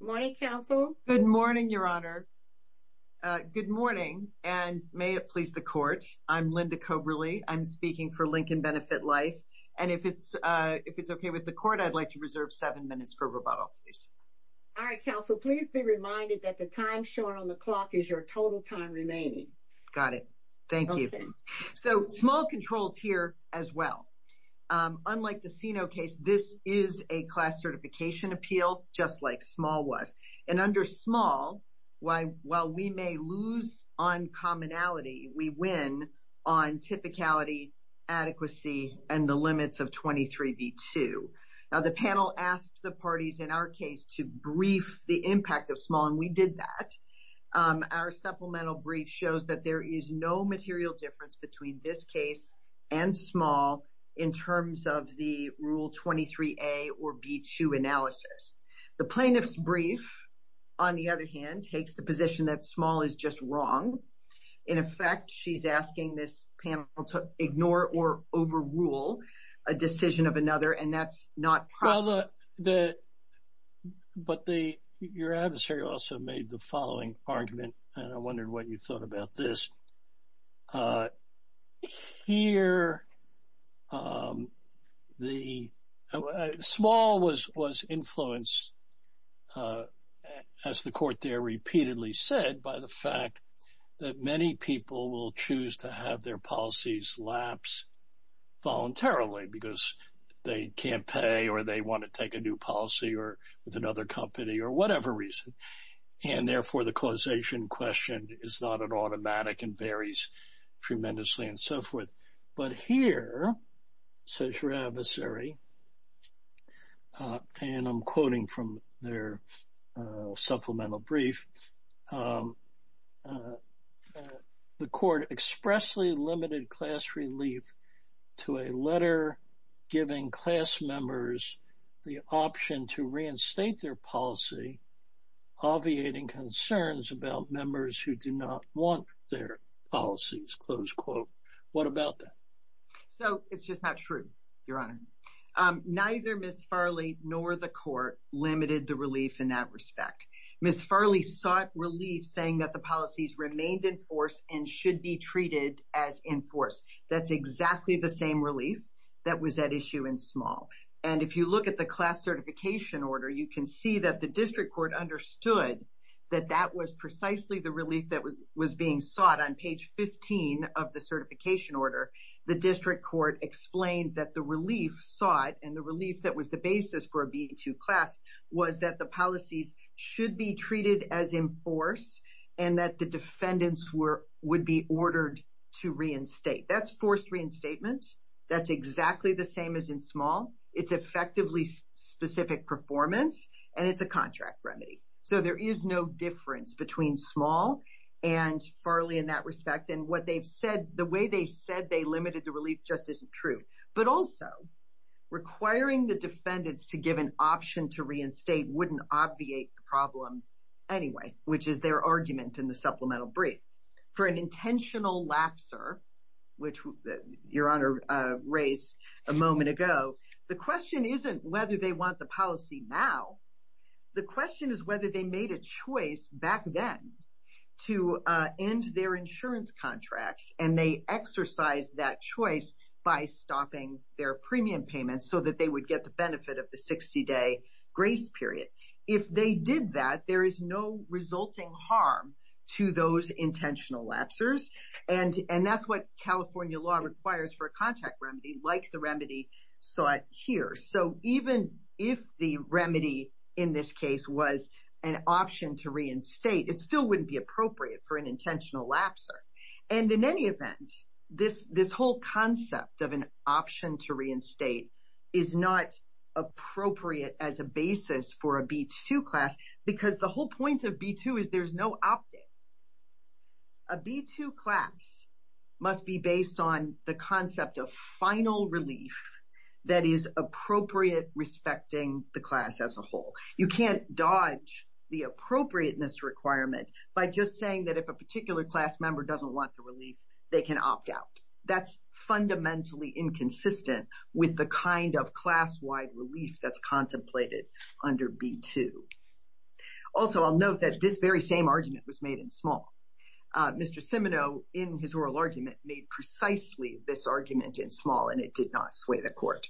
Good morning, Counsel. Good morning, Your Honor. Good morning, and may it please the Court. I'm Linda Coberly. I'm speaking for Lincoln Benefit Life, and if it's okay with the Court, I'd like to reserve seven minutes for rebuttal, please. All right, Counsel. Please be reminded that the time shown on the clock is your total time remaining. Got it. Thank you. So, small controls here as well. Unlike the case, this is a class certification appeal, just like small was. And under small, while we may lose on commonality, we win on typicality, adequacy, and the limits of 23B2. Now, the panel asked the parties in our case to brief the impact of small, and we did that. Our supplemental brief shows that there is no material difference between this case and small in terms of the Rule 23A or B2 analysis. The plaintiff's brief, on the other hand, takes the position that small is just wrong. In effect, she's asking this panel to ignore or overrule a decision of another, and that's not proper. Well, but your adversary also made the following argument, and I wondered what you thought about this. Here, small was influenced, as the court there repeatedly said, by the fact that many people will choose to have their policies lapse voluntarily because they can't pay or they want to take a new policy or with another company or whatever reason. And therefore, the causation question is not an automatic and varies tremendously and so forth. But here, says your adversary, and I'm quoting from their supplemental brief, the court expressly limited class relief to a letter giving class members the option to reinstate their policy, obviating concerns about members who do not want their policies, close quote. What about that? So, it's just not true, Your Honor. Neither Ms. Farley nor the court limited the relief in that respect. Ms. Farley sought relief saying that the policies remained in force and should be treated as in force. That's exactly the same relief that was at issue in small. And if you look at the class certification order, you can see that the district court understood that that was precisely the relief that was being sought. On page 15 of the certification order, the district court explained that the relief sought and the relief that was the basis for a B2 class was that the policies should be treated as in force and that the defendants would be ordered to reinstate. That's forced reinstatement. That's exactly the same as in small. It's effectively specific performance and it's a contract remedy. So, there is no difference between small and Farley in that respect. And what they've said, the way they said they limited the relief just isn't true. But also, requiring the defendants to give an option to reinstate wouldn't obviate the problem anyway, which is their argument in the supplemental brief. For an intentional lapser, which Your Honor raised a moment ago, the question isn't whether they want the policy now. The question is whether they made a choice back then to end their insurance contracts and they exercised that choice by stopping their premium payments so that they would get the benefit of the 60-day grace period. If they did that, there is no resulting harm to those intentional lapsers. And that's what California law requires for a contract remedy like the remedy sought here. So, even if the remedy in this case was an option to reinstate, it still wouldn't be appropriate for an intentional lapser. And in any event, this whole concept of an option to reinstate is not appropriate as a basis for a B2 class because the whole point of B2 is there's no opting. A B2 class must be based on the concept of final relief that is appropriate respecting the class as a whole. You can't dodge the appropriateness requirement by just saying that if a particular class member doesn't want the relief, they can opt out. That's fundamentally inconsistent with the kind of class-wide relief that's contemplated under B2. Also, I'll note that this very same argument was made in small. Mr. Cimino, in his oral argument, made precisely this argument in small and it did not sway the court.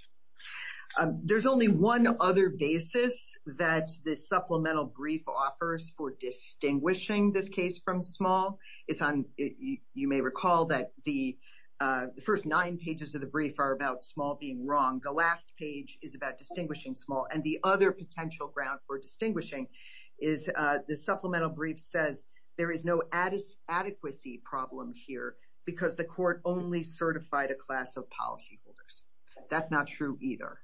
There's only one other basis that this supplemental brief offers for distinguishing this case from small. You may recall that the first nine pages of the brief are about small being wrong. The last page is about distinguishing small. And the other potential ground for distinguishing is the supplemental brief says there is no adequacy problem here because the court only certified a class of policyholders. That's not true either.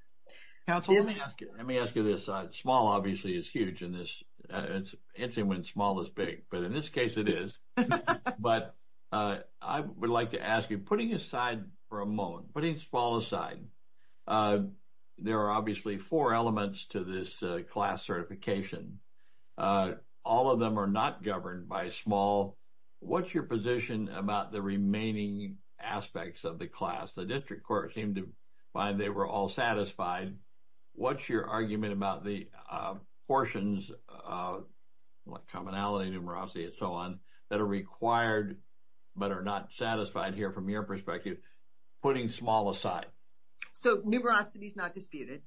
Counsel, let me ask you this. Small, obviously, is huge in this. It's interesting when small is big, but in this case it is. But I would like to ask you, putting aside for a moment, putting small aside, there are obviously four elements to this class certification. All of them are not governed by small. What's your position about the remaining aspects of the class? The district court seemed to find they were all satisfied. What's your argument about the portions, like commonality, numerosity, and so on, that are required but are not satisfied here from your perspective, putting small aside? So numerosity is not disputed.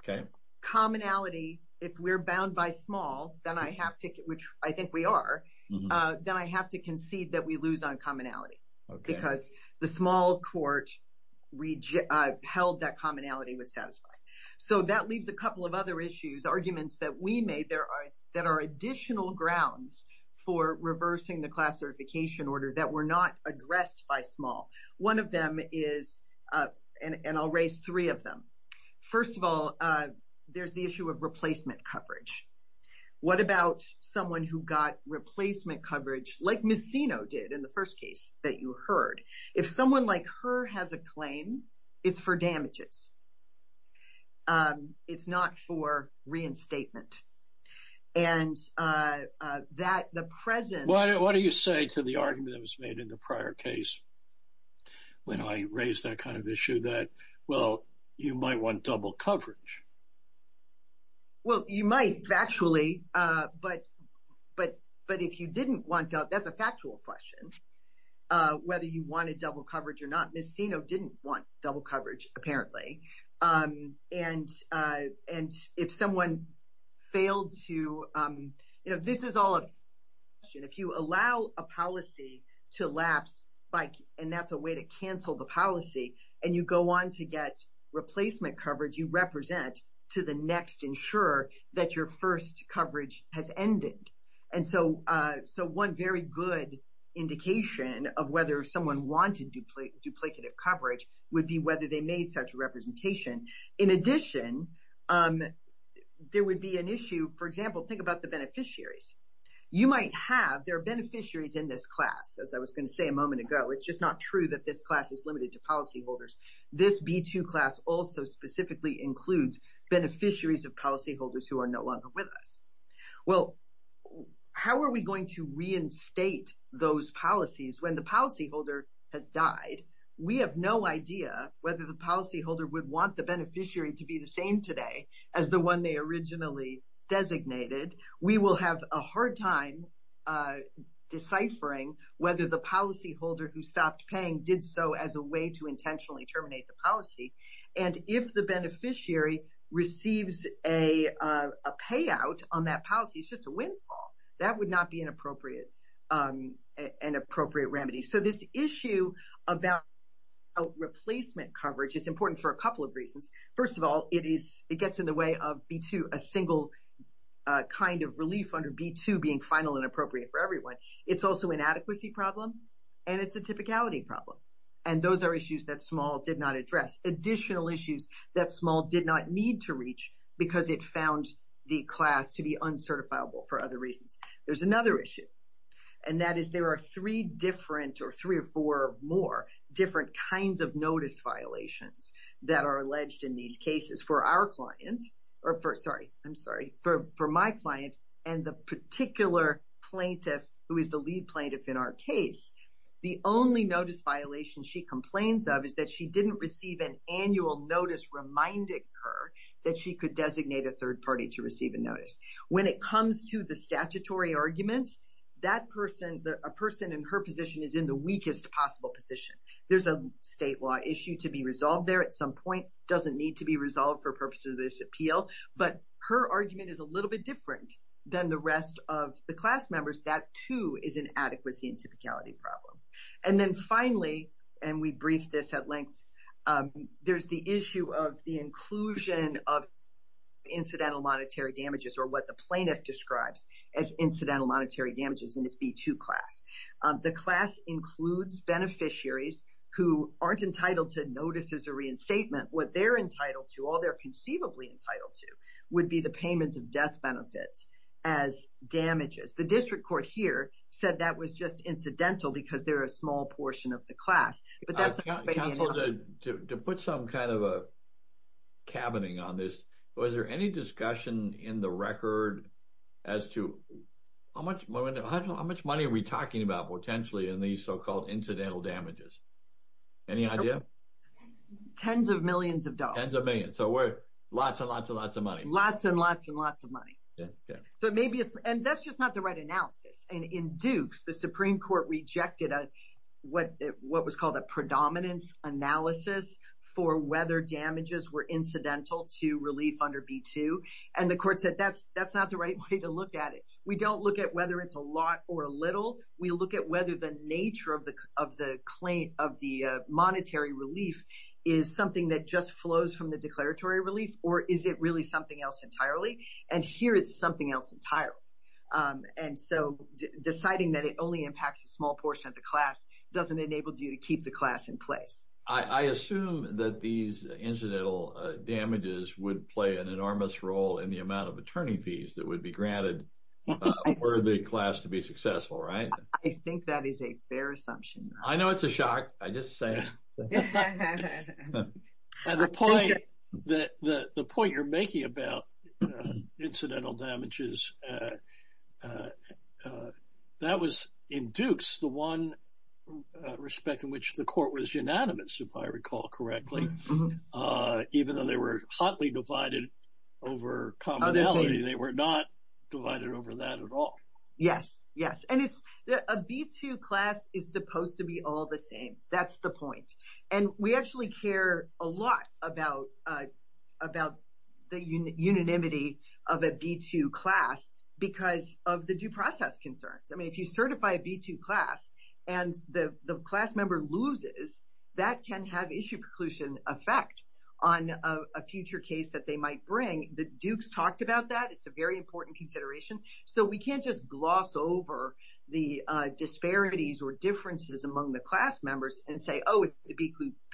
Okay. Commonality, if we're bound by small, then I have to, which I think we are, then I have to concede that we lose on commonality because the small court held that commonality was satisfied. So that leaves a couple of other arguments that we made that are additional grounds for reversing the class certification order that were not addressed by small. One of them is, and I'll raise three of them. First of all, there's the issue of replacement coverage. What about someone who got replacement coverage, like Ms. Sino did in the first case that you heard? If someone like her has a claim, it's for damages. It's not for reinstatement. And that the present- What do you say to the argument that was made in the prior case when I raised that kind of issue that, well, you might want double coverage? Well, you might, factually, but if you didn't want double, that's a factual question, whether you wanted double coverage or not. Ms. Sino didn't want double coverage, apparently. And if someone failed to, this is all a question. If you allow a policy to lapse, and that's a way to cancel the policy, and you go on to get replacement coverage, you represent to the next insurer that your first coverage has ended. And so, one very good indication of whether someone wanted duplicative coverage would be whether they made such a representation. In addition, there would be an issue, for example, think about the beneficiaries. You might have, there are beneficiaries in this class, as I was going to say a moment ago. It's just not true that this class is limited to policyholders. This B2 class also specifically includes beneficiaries of policyholders who are no longer with us. Well, how are we going to reinstate those policies when the policyholder has died? We have no idea whether the policyholder would want the beneficiary to be the same today as the one they originally designated. We will have a hard time deciphering whether the policyholder who stopped paying did so as a way to intentionally terminate the policy. And if the beneficiary receives a payout on that policy, it's just a windfall. That would not be an appropriate remedy. So, this issue about replacement coverage is important for a couple of reasons. First of all, it gets in the way of B2, a single kind of relief under B2 being final and appropriate for everyone. It's also an adequacy problem, and it's a typicality problem. And those are issues that SMAL did not address. Additional issues that SMAL did not need to reach because it found the class to be uncertifiable for other reasons. There's another issue, and that is there are three different, or three or four more, different kinds of notice violations that are alleged in these cases for our client, or for, sorry, I'm sorry, for my client and the particular plaintiff who is the lead plaintiff in our case. The only notice violation she complains of is that she didn't receive an annual notice reminding her that she could designate a third party to receive a notice. When it comes to the statutory arguments, that person, a person in her position is in the weakest possible position. There's a state law issue to be resolved there at some point. It doesn't need to be resolved for purposes of this appeal, but her argument is a little bit different than the rest of the class members. That too is an adequacy and typicality problem. And then finally, and we briefed this at length, there's the issue of the inclusion of incidental monetary damages or what the plaintiff describes as incidental monetary damages in this B2 class. The class includes beneficiaries who aren't entitled to notices or reinstatement. What they're entitled to, all they're conceivably entitled to, would be the payment of death benefits as damages. The district court here said that was just incidental because they're a small portion of the class. But that's not going to be an option. To put some kind of a cabining on this, was there any discussion in the record as to how much money are we talking about potentially in these so-called incidental damages? Any idea? Tens of millions of dollars. Tens of millions. So lots and lots and lots of money. Lots and lots and lots of money. And that's just not the right analysis. And in Dukes, the Supreme Court rejected what was called a predominance analysis for whether damages were incidental to relief under B2. And the court said that's not the right way to look at it. We don't look at whether it's a lot or a little. We look at whether the nature of the claim of the monetary relief is something that just flows from the declaratory relief, or is it really something else entirely? And here it's something else entirely. And so deciding that it only impacts a small portion of the class doesn't enable you to keep the class in place. I assume that these incidental damages would play an enormous role in the amount of attorney fees that would be granted for the class to be successful, right? I think that is a fair assumption. I know it's a shock. I just say it. The point you're making about incidental damages, that was, in Dukes, the one respect in which the court was unanimous, if I recall correctly, even though they were hotly divided over commonality. They were not divided over that at all. Yes, yes. And a B2 class is supposed to be all the same. That's the point. And we actually care a lot about the unanimity of a B2 class because of the due process concerns. I mean, if you certify a B2 class and the class member loses, that can have issue preclusion effect on a future case that they might bring. Dukes talked about that. It's a very important consideration. So we can't just gloss over the disparities or differences among the class members and say, oh, it's a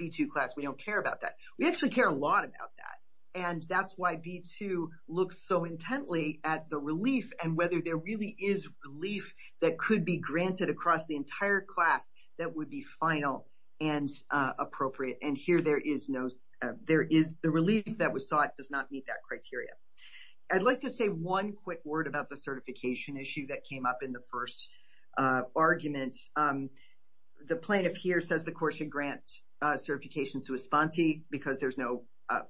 B2 class. We don't care about that. We actually care a lot about that. And that's why B2 looks so intently at the relief and whether there really is relief that could be granted across the entire class that would be final and appropriate. And here, the relief that was sought does not meet that criteria. I'd like to say one quick word about the certification issue that came up in the first argument. The plaintiff here says the court should grant certification to a spontee because there's no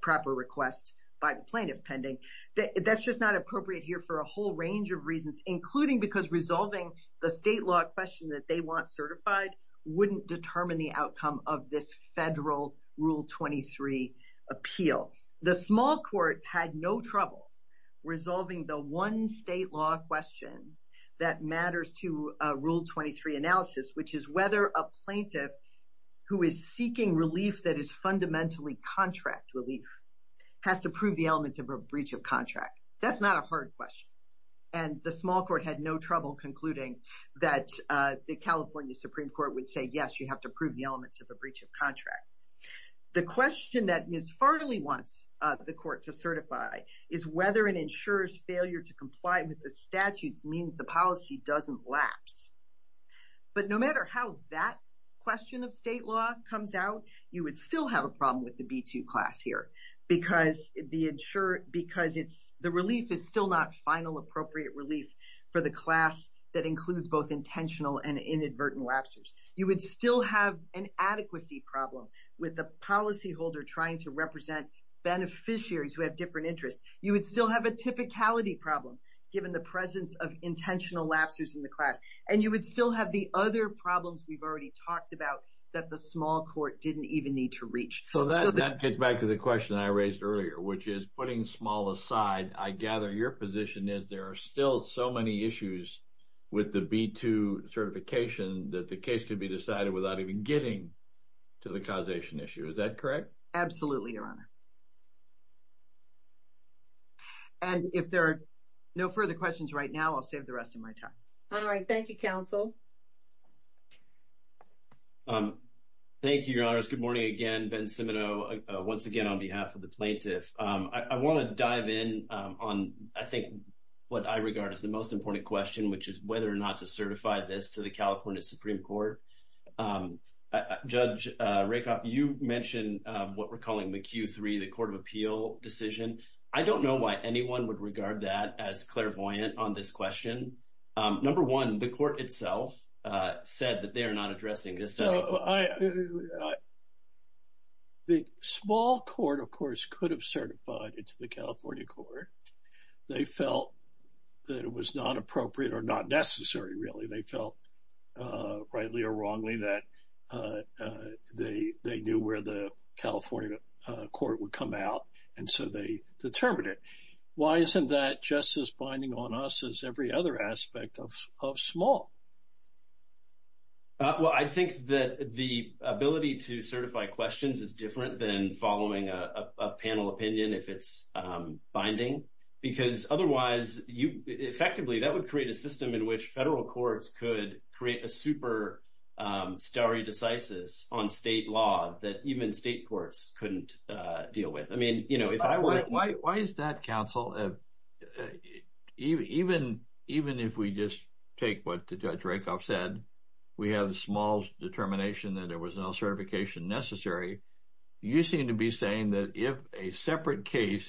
proper request by the plaintiff pending. That's just not appropriate here for a whole range of reasons, including because resolving the state law question that they want certified wouldn't determine the outcome of this federal Rule 23 appeal. The small court had no trouble resolving the one state law question that matters to Rule 23 analysis, which is whether a plaintiff who is seeking relief that is fundamentally contract relief has to prove the elements of a breach of contract. That's not a hard question. And the small court had no trouble concluding that the California Supreme Court would say, yes, you have to prove the elements of a breach of contract. The question that Ms. Farley wants the court to certify is whether an insurer's failure to comply with the statutes means the policy doesn't lapse. But no matter how that question of state law comes out, you would still have a problem with the B-2 class here because the relief is still not final appropriate relief for the class that includes both intentional and inadvertent lapses. You would still have an adequacy problem with the policy holder trying to represent beneficiaries who have different interests. You would still have a typicality problem given the presence of intentional lapses in the class. And you would still have the other problems we've already talked about that the small court didn't even need to reach. So that gets back to the question I raised earlier, which is putting small aside, I gather your position is there are still so many issues with the B-2 certification that the case could be decided without even getting to the causation issue. Is that correct? Absolutely, Your Honor. And if there are no further questions right now, I'll save the rest of my time. All right. Thank you, counsel. Thank you, Your Honors. Good morning again. Ben Cimino once again on behalf of the plaintiff. I want to dive in on, I think, what I regard as the most important question, which is whether or not to certify this to the California Supreme Court. Judge Rakoff, you mentioned what we're calling the Q3, the court of appeal decision. I don't know why anyone would regard that as clairvoyant on this question. Number one, the court itself said that they are not addressing this. I think the small court, of course, could have certified it to the California court. They felt that it was not appropriate or not necessary, really. They felt rightly or wrongly that they knew where the California court would come out, and so they determined it. Why isn't that just as binding on us as every other aspect of small? Well, I think that the ability to certify questions is different than following a panel opinion if it's binding, because otherwise, effectively, that would create a system in which federal courts could create a super stare decisis on state law that even state courts couldn't deal with. Why is that, counsel? Even if we just take what Judge Rakoff said, we have a small determination that there was no certification necessary, you seem to be saying that if a separate case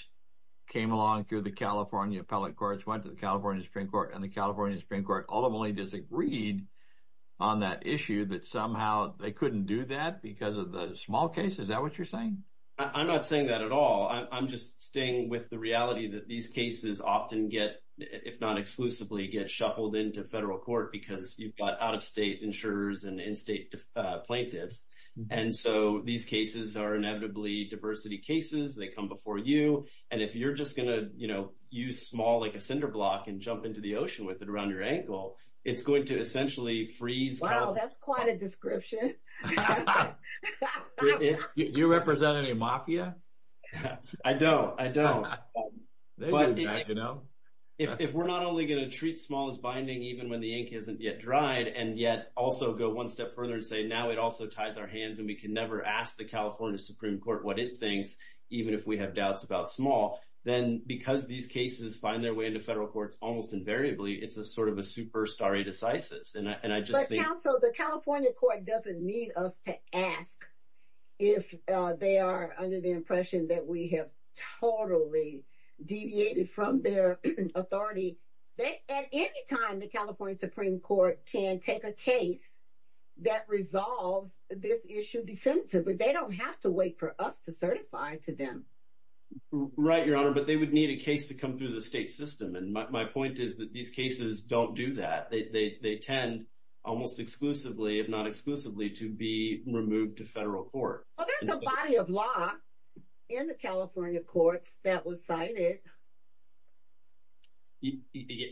came along through the California appellate courts, went to the California Supreme Court, and the California Supreme Court ultimately disagreed on that issue, that somehow they couldn't do that because of the small case? Is that what you're saying? I'm not saying that at all. I'm just staying with the reality that these cases often get, if not exclusively, get shuffled into federal court because you've got out-of-state insurers and in-state plaintiffs, and so these cases are inevitably diversity cases. They come before you, and if you're just going to use small like a cinder block and jump into the ocean with it around your ankle, it's going to essentially freeze- Wow, that's quite a description. Do you represent any mafia? I don't, I don't. If we're not only going to treat small as binding, even when the ink hasn't yet dried, and yet also go one step further and say, now it also ties our hands and we can never ask the California Supreme Court what it thinks, even if we have doubts about small, then because these cases find their way into federal courts almost invariably, it's a sort of a superstar decisis, and I just think- Right, Your Honor, but they would need a case to come through the state system, and my point is that these cases don't do that. They tend almost exclusively, if not exclusively, to be removed to federal court. Well, there's a body of law in the California courts that was cited.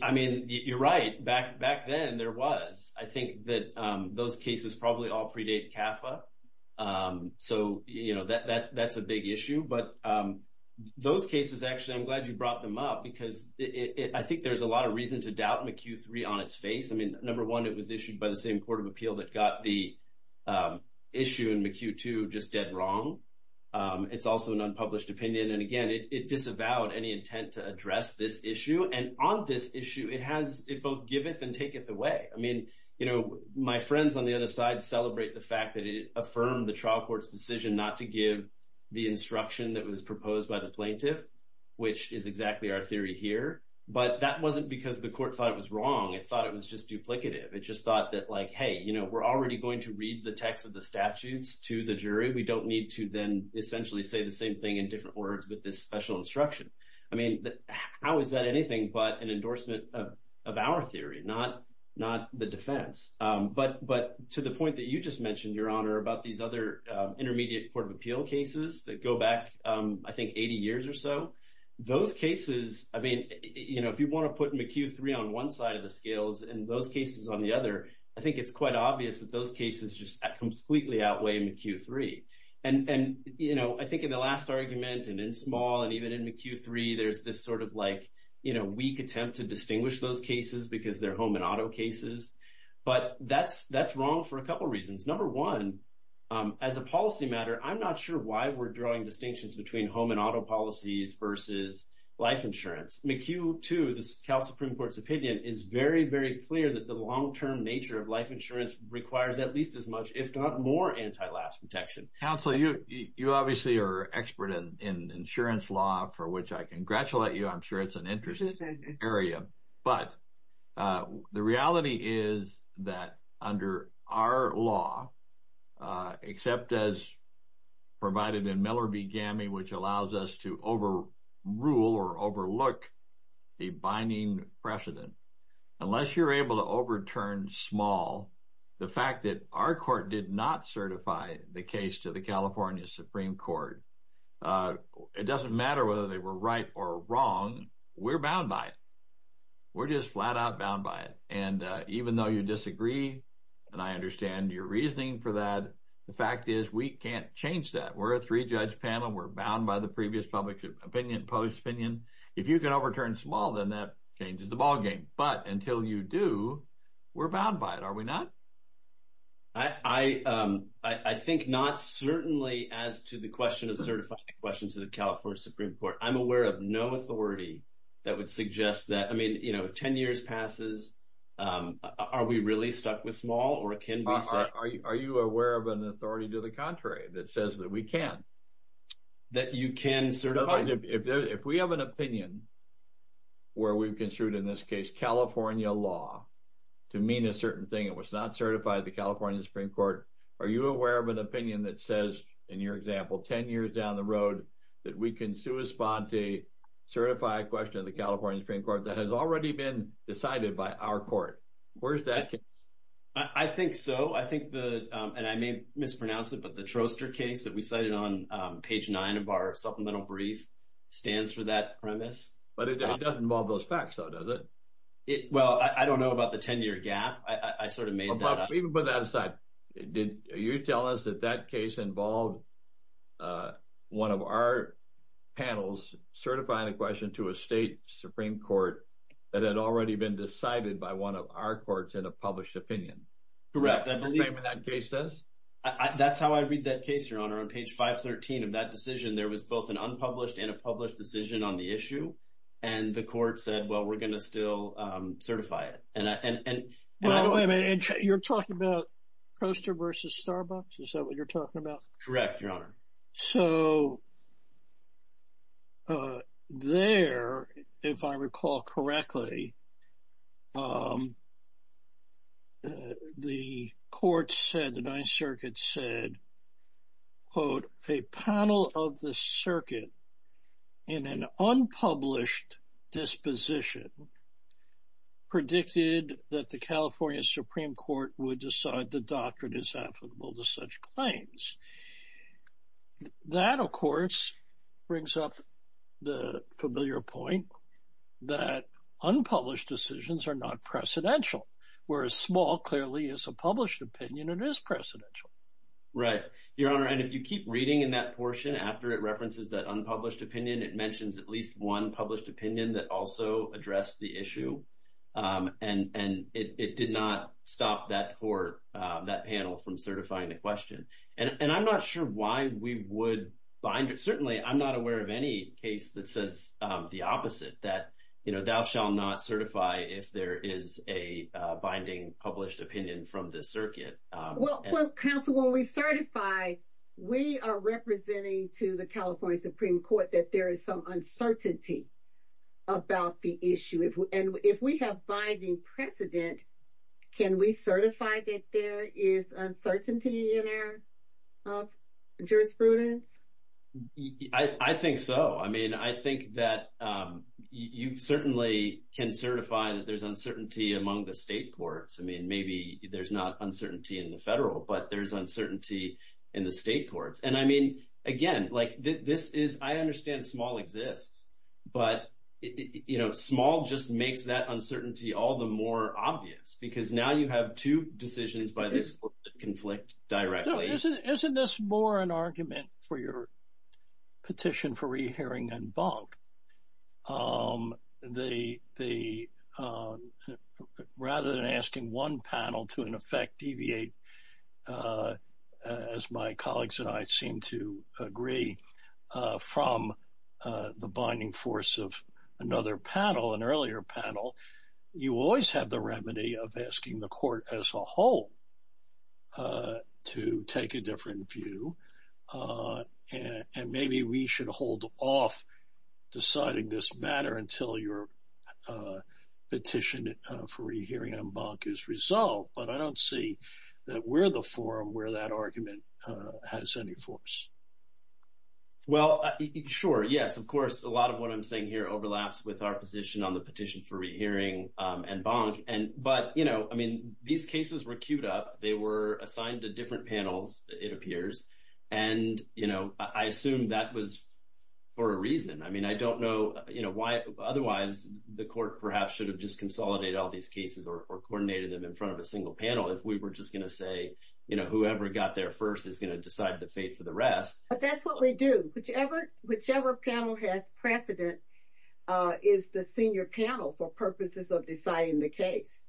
I mean, you're right. Back then, there was. I think that those cases probably all predate CAFA, so that's a big issue, but those cases, actually, I'm glad you brought them up because I think there's a lot of reason to doubt McHugh 3 on its face. I mean, number one, it was issued by the same court of appeal that got the issue in McHugh 2 just dead wrong. It's also an unpublished opinion, and again, it disavowed any intent to address this issue, and on this issue, it both giveth and taketh away. I mean, my friends on the other side celebrate the fact that it affirmed the trial court's decision not to give the instruction that was proposed by the plaintiff, which is exactly our theory here, but that wasn't because the court thought it was wrong. It thought it was just duplicative. It just thought that, like, hey, we're already going to read the text of the statutes to the jury. We don't need to then essentially say the same thing in different words with this special instruction. I mean, how is that anything but an endorsement of our theory, not the defense? But to the point that you just mentioned, Your Honor, about these other intermediate court of appeal cases that go back, I think, 80 years or so, those cases, I mean, if you want to put McHugh III on one side of the scales and those cases on the other, I think it's quite obvious that those cases just completely outweigh McHugh III, and, you know, I think in the last argument and in small and even in McHugh III, there's this sort of, like, you know, weak attempt to distinguish those cases because they're home and auto cases, but that's wrong for a couple reasons. Number one, as a policy matter, I'm not sure why we're drawing distinctions between home and auto policies versus life insurance. McHugh II, the Supreme Court's opinion, is very, very clear that the long-term nature of life insurance requires at least as much, if not more, anti-lapse protection. Counsel, you obviously are an expert in insurance law, for which I congratulate you. I'm sure it's an interesting area, but the reality is that under our law, except as provided in Miller v. Gammey, which allows us to overrule or overlook a binding precedent, unless you're able to overturn small, the fact that our court did not certify the case to the California Supreme Court, it doesn't matter whether they were right or wrong, we're bound by it. We're just flat-out bound by it, and even though you disagree, and I understand your reasoning for that, the fact is we can't change that. We're a three-judge panel. We're bound by the previous public opinion, post-opinion. If you can overturn small, then that changes the ballgame, but until you do, we're bound by it, are we not? I think not, certainly, as to the question of certifying questions to the California Supreme Court. I'm aware of no authority that would suggest that. Ten years passes, are we really stuck with small, or can we say? Are you aware of an authority to the contrary that says that we can? That you can certify? If we have an opinion where we've construed, in this case, California law to mean a certain thing that was not certified to the California Supreme Court, are you aware of an opinion that says, in your example, ten years down the road that we can sui sponte, certify a question to the California Supreme Court that has already been decided by our court? Where's that case? I think so. I think the, and I may mispronounce it, but the Troster case that we cited on page nine of our supplemental brief stands for that premise. But it doesn't involve those facts, though, does it? Well, I don't know about the ten-year gap. I sort of made that up. Even put that aside, did you tell us that that case involved a, one of our panels certifying a question to a state Supreme Court that had already been decided by one of our courts in a published opinion? Correct, I believe. Is that what that case says? That's how I read that case, Your Honor. On page 513 of that decision, there was both an unpublished and a published decision on the issue, and the court said, well, we're going to still certify it. Well, wait a minute. You're talking about Troster versus Starbucks? Is that what you're talking about? Correct, Your Honor. So, there, if I recall correctly, the court said, the Ninth Circuit said, quote, a panel of the circuit in an unpublished disposition predicted that the California Supreme Court would decide the doctrine is applicable to such claims. That, of course, brings up the familiar point that unpublished decisions are not precedential, whereas small clearly is a published opinion and is precedential. Right, Your Honor, and if you keep reading in that portion after it references that unpublished opinion, it mentions at least one published opinion that also addressed the issue, and it did not stop that court, that panel from certifying the question. And I'm not sure why we would bind it. Certainly, I'm not aware of any case that says the opposite, that, you know, thou shall not certify if there is a binding published opinion from the circuit. Well, counsel, when we certify, we are representing to the California Supreme Court that there is some uncertainty about the issue, and if we have binding precedent, can we certify that there is uncertainty in our jurisprudence? I think so. I mean, I think that you certainly can certify that there's uncertainty among the state courts. I mean, maybe there's not uncertainty in the federal, but there's uncertainty in the state courts. And I mean, again, like this is, I understand small exists, but, you know, small just makes that uncertainty all the more obvious, because now you have two decisions by this conflict directly. Isn't this more an argument for your petition for re-hearing and bunk? Rather than asking one panel to, in effect, deviate, as my colleagues and I seem to agree, from the binding force of another panel, an earlier panel, you always have the remedy of asking the court as a whole to take a different view. And maybe we should hold off deciding this matter until your petition for re-hearing and bunk is resolved. But I don't see that we're the where that argument has any force. Well, sure. Yes, of course, a lot of what I'm saying here overlaps with our position on the petition for re-hearing and bunk. But, you know, I mean, these cases were queued up. They were assigned to different panels, it appears. And, you know, I assume that was for a reason. I mean, I don't know why otherwise the court perhaps should have just consolidated all these cases or coordinated them in front of a single panel if we were just to say, you know, whoever got there first is going to decide the fate for the rest. But that's what we do. Whichever panel has precedent is the senior panel for purposes of deciding the case.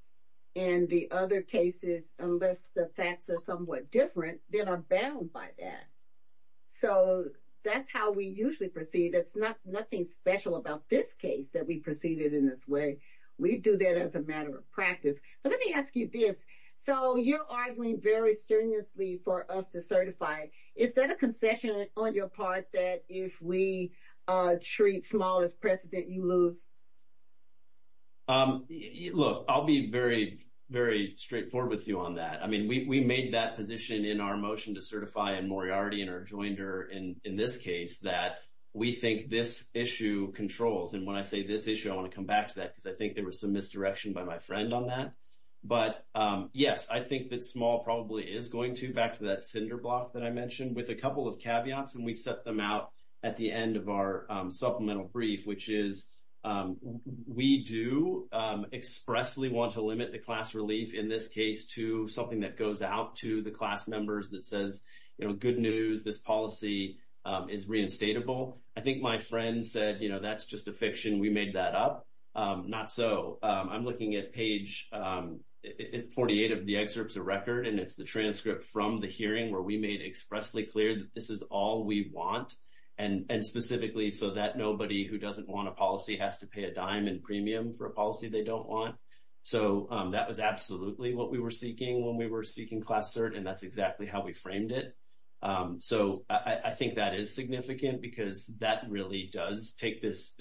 And the other cases, unless the facts are somewhat different, then are bound by that. So that's how we usually proceed. It's not nothing special about this case that we proceeded in this way. We do that as a matter of practice. But let me ask you this. So you're arguing very strenuously for us to certify. Is there a concession on your part that if we treat small as precedent, you lose? Look, I'll be very straightforward with you on that. I mean, we made that position in our motion to certify and Moriarty and her joined her in this case that we think this issue controls. And when I say this issue, I want to come back to that because I think there was some misdirection by my friend on that. But yes, I think that small probably is going to back to that cinder block that I mentioned with a couple of caveats. And we set them out at the end of our supplemental brief, which is we do expressly want to limit the class relief in this case to something that goes out to the class members that says, you know, good news, this policy is reinstatable. I think my friend said, you know, that's just a we made that up. Not so. I'm looking at page 48 of the excerpts of record and it's the transcript from the hearing where we made expressly clear that this is all we want. And specifically so that nobody who doesn't want a policy has to pay a dime in premium for a policy they don't want. So that was absolutely what we were seeking when we were seeking class cert. And that's exactly how we framed it. So I think that is significant because that really does take this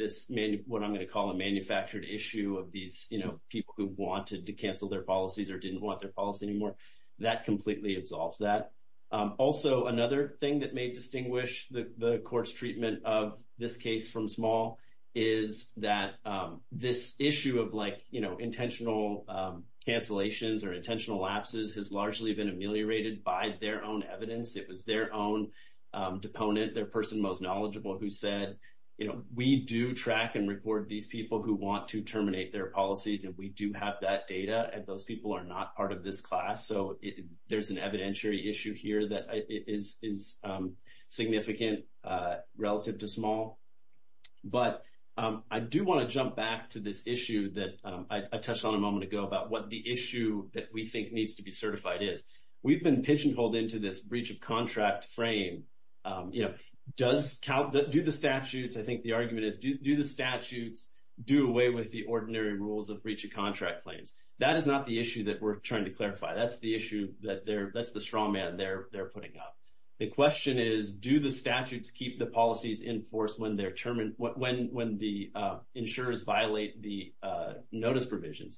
what I'm going to call a manufactured issue of these people who wanted to cancel their policies or didn't want their policy anymore. That completely absolves that. Also, another thing that may distinguish the court's treatment of this case from small is that this issue of like, you know, intentional cancellations or intentional lapses has largely been ameliorated by their own It was their own deponent, their person most knowledgeable who said, you know, we do track and report these people who want to terminate their policies. And we do have that data. And those people are not part of this class. So there's an evidentiary issue here that is significant relative to small. But I do want to jump back to this issue that I touched on a moment ago about what the issue that we think needs to be certified is. We've been pigeonholed into this breach of contract frame, you know, does count, do the statutes, I think the argument is, do the statutes do away with the ordinary rules of breach of contract claims? That is not the issue that we're trying to clarify. That's the issue that they're, that's the straw man they're putting up. The question is, do the statutes keep the policies in force when they're terminated, when the insurers violate the notice provisions?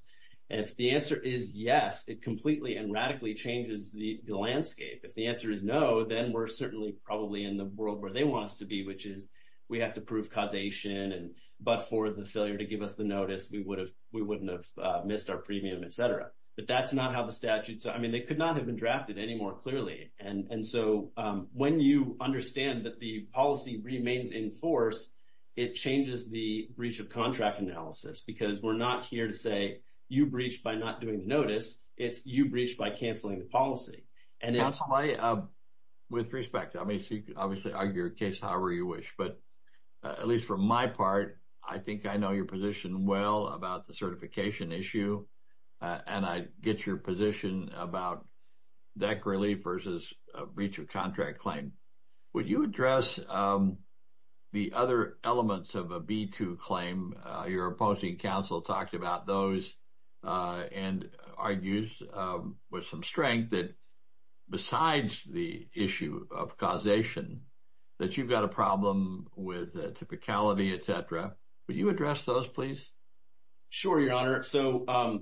If the answer is yes, it completely and radically changes the landscape. If the answer is no, then we're certainly probably in the world where they want us to be, which is we have to prove causation. And but for the failure to give us the notice, we wouldn't have missed our premium, et cetera. But that's not how the statutes, I mean, they could not have been drafted any more clearly. And so when you understand that the policy remains in force, it changes the breach of contract analysis, because we're not here to say you breached by not doing the notice, it's you breached by canceling the policy. And if... Counsel, I, with respect, I mean, so you could obviously argue your case however you wish, but at least from my part, I think I know your position well about the certification issue. And I get your position about deck relief versus a breach of contract claim. Would you address the other elements of a B2 claim? Your opposing counsel talked about those and argues with some strength that besides the issue of causation, that you've got a problem with typicality, et cetera. Would you address those, please? Sure, Your Honor. So on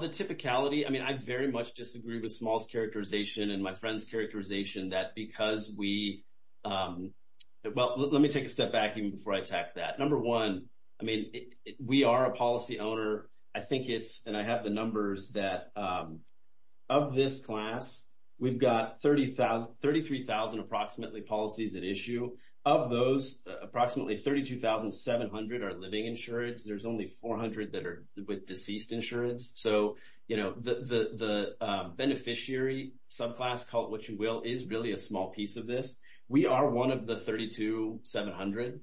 the typicality, I mean, I very much disagree with Small's characterization that because we... Well, let me take a step back even before I attack that. Number one, I mean, we are a policy owner. I think it's, and I have the numbers that of this class, we've got 33,000 approximately policies at issue. Of those, approximately 32,700 are living insurance. There's only 400 that are with deceased insurance. So the beneficiary subclass, call it what you will, is really a small piece of this. We are one of the 32,700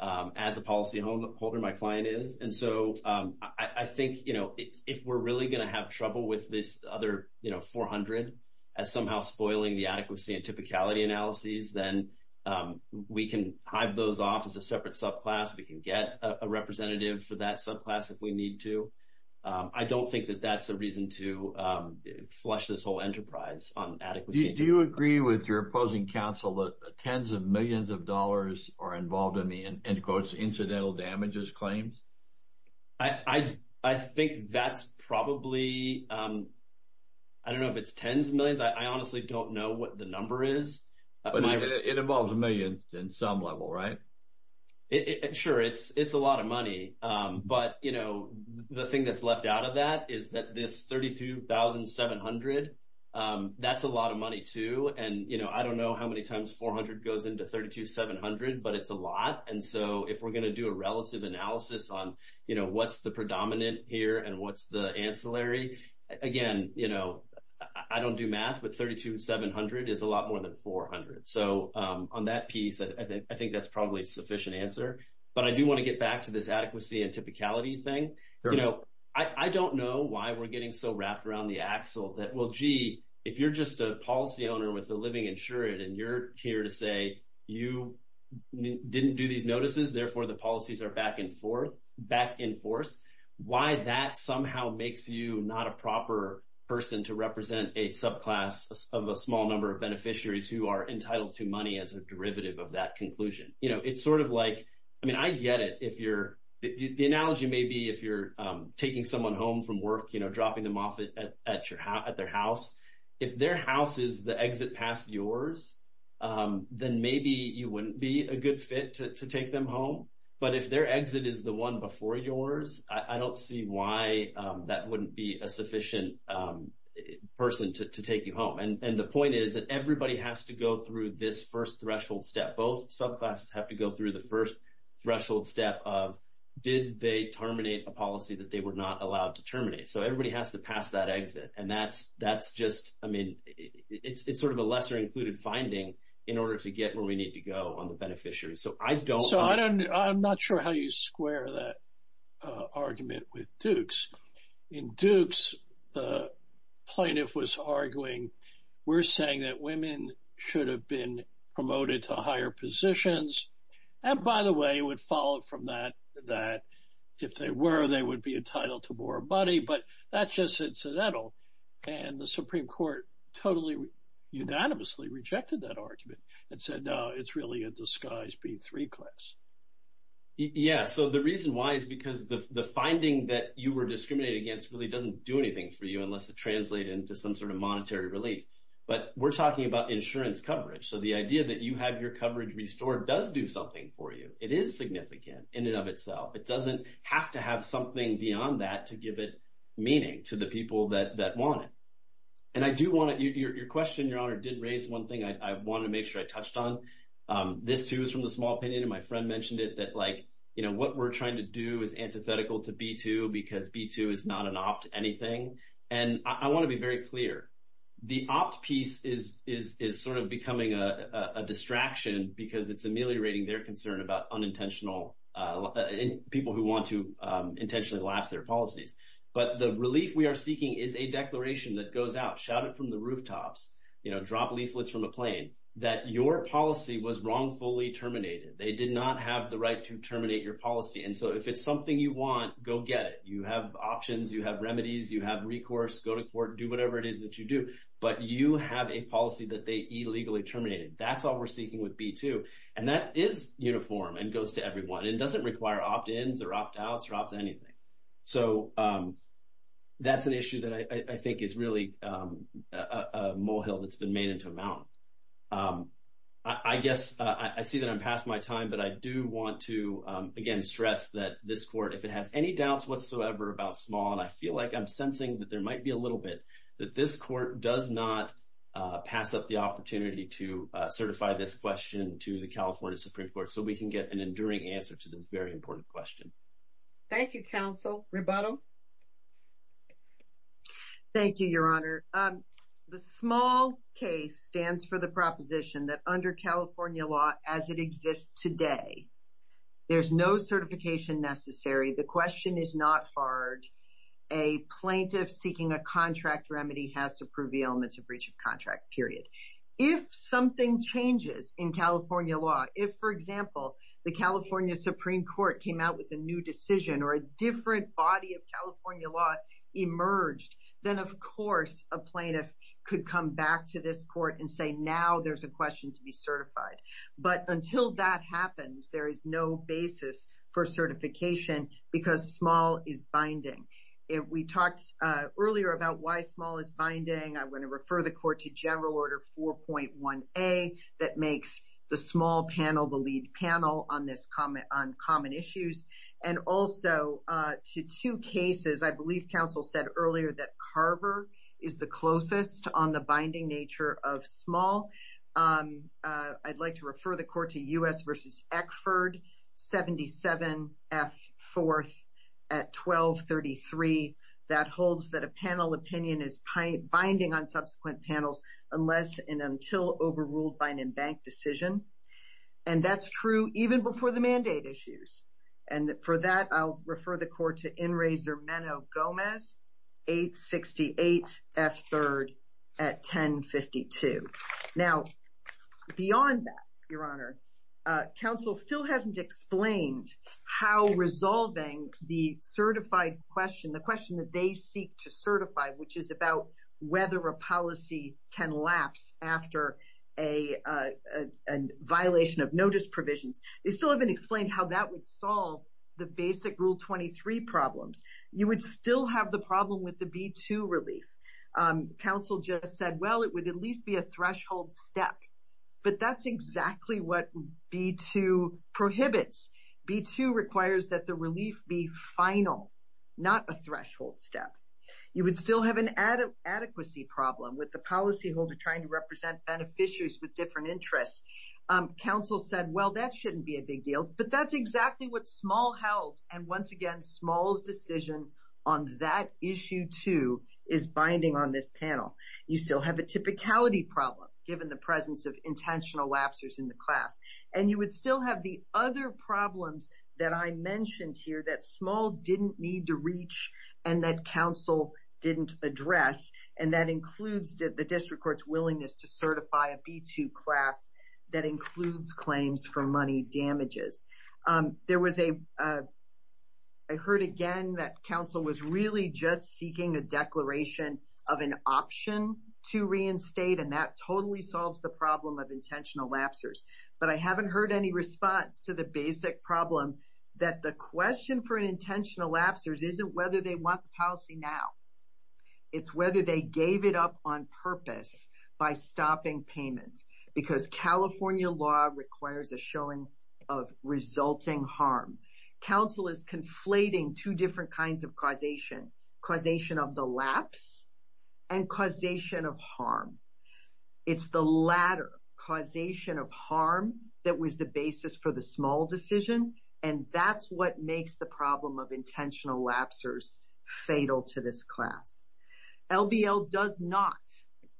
as a policy holder, my client is. And so I think if we're really going to have trouble with this other 400 as somehow spoiling the adequacy and typicality analyses, then we can hive those off as a separate subclass. We can get a representative for that class if we need to. I don't think that that's a reason to flush this whole enterprise on adequacy. Do you agree with your opposing counsel that tens of millions of dollars are involved in the incidental damages claims? I think that's probably, I don't know if it's tens of millions. I honestly don't know what the number is. It involves millions in some level, right? Sure, it's a lot of money. But the thing that's left out of that is that this 32,700, that's a lot of money too. And I don't know how many times 400 goes into 32,700, but it's a lot. And so if we're going to do a relative analysis on what's the predominant here and what's the ancillary, again, I don't do math, but 32,700 is a lot more than 400. So on that piece, I think that's probably a sufficient answer. But I do want to get back to this adequacy and typicality thing. I don't know why we're getting so wrapped around the axle that, well, gee, if you're just a policy owner with a living insured and you're here to say you didn't do these notices, therefore the policies are back in force, why that somehow makes you not a proper person to represent a subclass of a small number of beneficiaries who are entitled to money as a derivative of that inclusion. It's sort of like, I mean, I get it. The analogy may be if you're taking someone home from work, dropping them off at their house, if their house is the exit past yours, then maybe you wouldn't be a good fit to take them home. But if their exit is the one before yours, I don't see why that wouldn't be a sufficient person to take you home. And the point is that everybody has to go through this first threshold step. Both subclasses have to go through the first threshold step of, did they terminate a policy that they were not allowed to terminate? So, everybody has to pass that exit. And that's just, I mean, it's sort of a lesser included finding in order to get where we need to go on the beneficiaries. So, I don't... So, I'm not sure how you square that argument with Dukes. In Dukes, the plaintiff was arguing, we're saying that women should have been promoted to higher positions. And by the way, it would follow from that, that if they were, they would be entitled to more money, but that's just incidental. And the Supreme Court totally, unanimously rejected that argument and said, no, it's really a disguised B3 class. Yeah. So, the reason why is because the finding that you were discriminated against really doesn't do anything for you unless it translated into some sort of monetary relief. But we're talking about insurance coverage. So, the idea that you have your coverage restored does do something for you. It is significant in and of itself. It doesn't have to have something beyond that to give it meaning to the people that want it. And I do want to... Your question, Your Honor, did raise one to make sure I touched on. This too is from the small opinion and my friend mentioned it, that what we're trying to do is antithetical to B2 because B2 is not an opt anything. And I want to be very clear. The opt piece is sort of becoming a distraction because it's ameliorating their concern about unintentional... People who want to intentionally lapse their policies. But the relief we are seeking is a declaration that goes out, shout it from the rooftops, drop leaflets from a plane, that your policy was wrongfully terminated. They did not have the right to terminate your policy. And so, if it's something you want, go get it. You have options, you have remedies, you have recourse, go to court, do whatever it is that you do. But you have a policy that they illegally terminated. That's all we're seeking with B2. And that is uniform and goes to everyone and doesn't require opt ins or opt outs or opt anything. So, that's an issue that I think is really a molehill that's been made into a mountain. I guess, I see that I'm past my time, but I do want to, again, stress that this court, if it has any doubts whatsoever about Small, and I feel like I'm sensing that there might be a little bit, that this court does not pass up the opportunity to certify this question to the California Supreme Court so we can get an enduring answer to this very important question. Thank you, Counsel. Rebuttal. Thank you, Your Honor. The Small case stands for the proposition that under California law, as it exists today, there's no certification necessary. The question is not hard. A plaintiff seeking a contract remedy has to prove the elements of breach of contract, period. If something changes in California law, if, for example, the California Supreme Court came out with a new decision or a different body of California law emerged, then, of course, a plaintiff could come back to this court and say, now there's a question to be certified. But until that happens, there is no basis for certification because Small is binding. We talked earlier about why Small is binding. I want to refer the court to General Order 4.1A that makes the Small panel the lead panel on common issues. And also, to two cases, I believe Counsel said earlier that Carver is the closest on the binding nature of Small. I'd like to refer the court to U.S. v. Eckford, 77 F. 4th at 1233. That holds that a panel opinion is binding on subsequent panels unless and until overruled by an embanked decision. And that's true even before the mandate issues. And for that, I'll refer the court to Inrazer Menno Gomez, 868 F. 3rd at 1052. Now, beyond that, Your Honor, Counsel still hasn't explained how resolving the certified question, the question that they seek to certify, which is about whether a policy can lapse after a violation of notice provisions. They still haven't explained how that would solve the basic Rule 23 problems. You would still have the problem with the B-2 relief. Counsel just said, well, it would at least be a threshold step. But that's exactly what B-2 prohibits. B-2 requires that the relief be final, not a threshold step. You would still have an adequacy problem with the policyholder trying to represent beneficiaries with different interests. Counsel said, well, that shouldn't be a big deal. But that's exactly what Small held. And once again, Small's decision on that issue, is binding on this panel. You still have a typicality problem given the presence of intentional lapsers in the class. And you would still have the other problems that I mentioned here that Small didn't need to reach and that Counsel didn't address. And that includes the district court's willingness to certify a B-2 class that includes claims for money damages. There was a, I heard again that Counsel was really just seeking a declaration of an option to reinstate. And that totally solves the problem of intentional lapsers. But I haven't heard any response to the basic problem that the question for intentional lapsers isn't whether they want the policy now. It's whether they gave it up on purpose by stopping payments. Because California law requires a showing of resulting harm. Counsel is conflating two different kinds of causation, causation of the lapse and causation of harm. It's the latter, causation of harm, that was the basis for the Small decision. And that's what makes the problem of intentional lapsers fatal to this class. LBL does not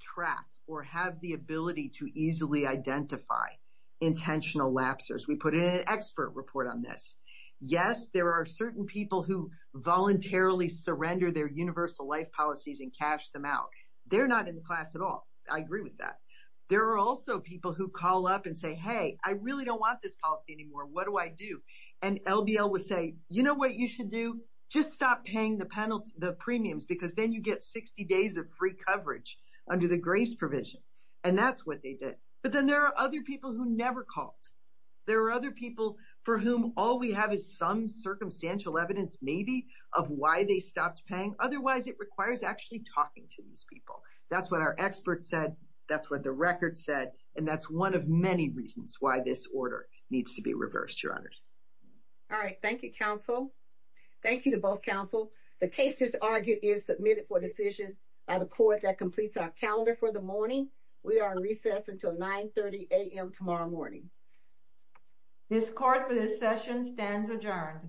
track or have the ability to easily identify intentional lapsers. We put in an expert report on this. Yes, there are certain people who voluntarily surrender their universal life policies and cash them out. They're not in the class at all. I agree with that. There are also people who call up and say, hey, I really don't want this policy anymore. What do I do? And LBL will say, you know what you should do? Just stop paying the premiums because then you get 60 days of free coverage under the grace provision. And that's what they did. But then there are other people who never called. There are other people for whom all we have is some circumstantial evidence, maybe, of why they stopped paying. Otherwise, it requires actually talking to these people. That's what our experts said. That's what the record said. And that's one of many reasons why this order needs to be reversed, Your Honors. All right. Thank you, counsel. Thank you to both counsel. The case is argued is submitted for decision by the court that completes our calendar for the morning. We are in recess until 9 30 a.m. tomorrow morning. This card for this session stands adjourned.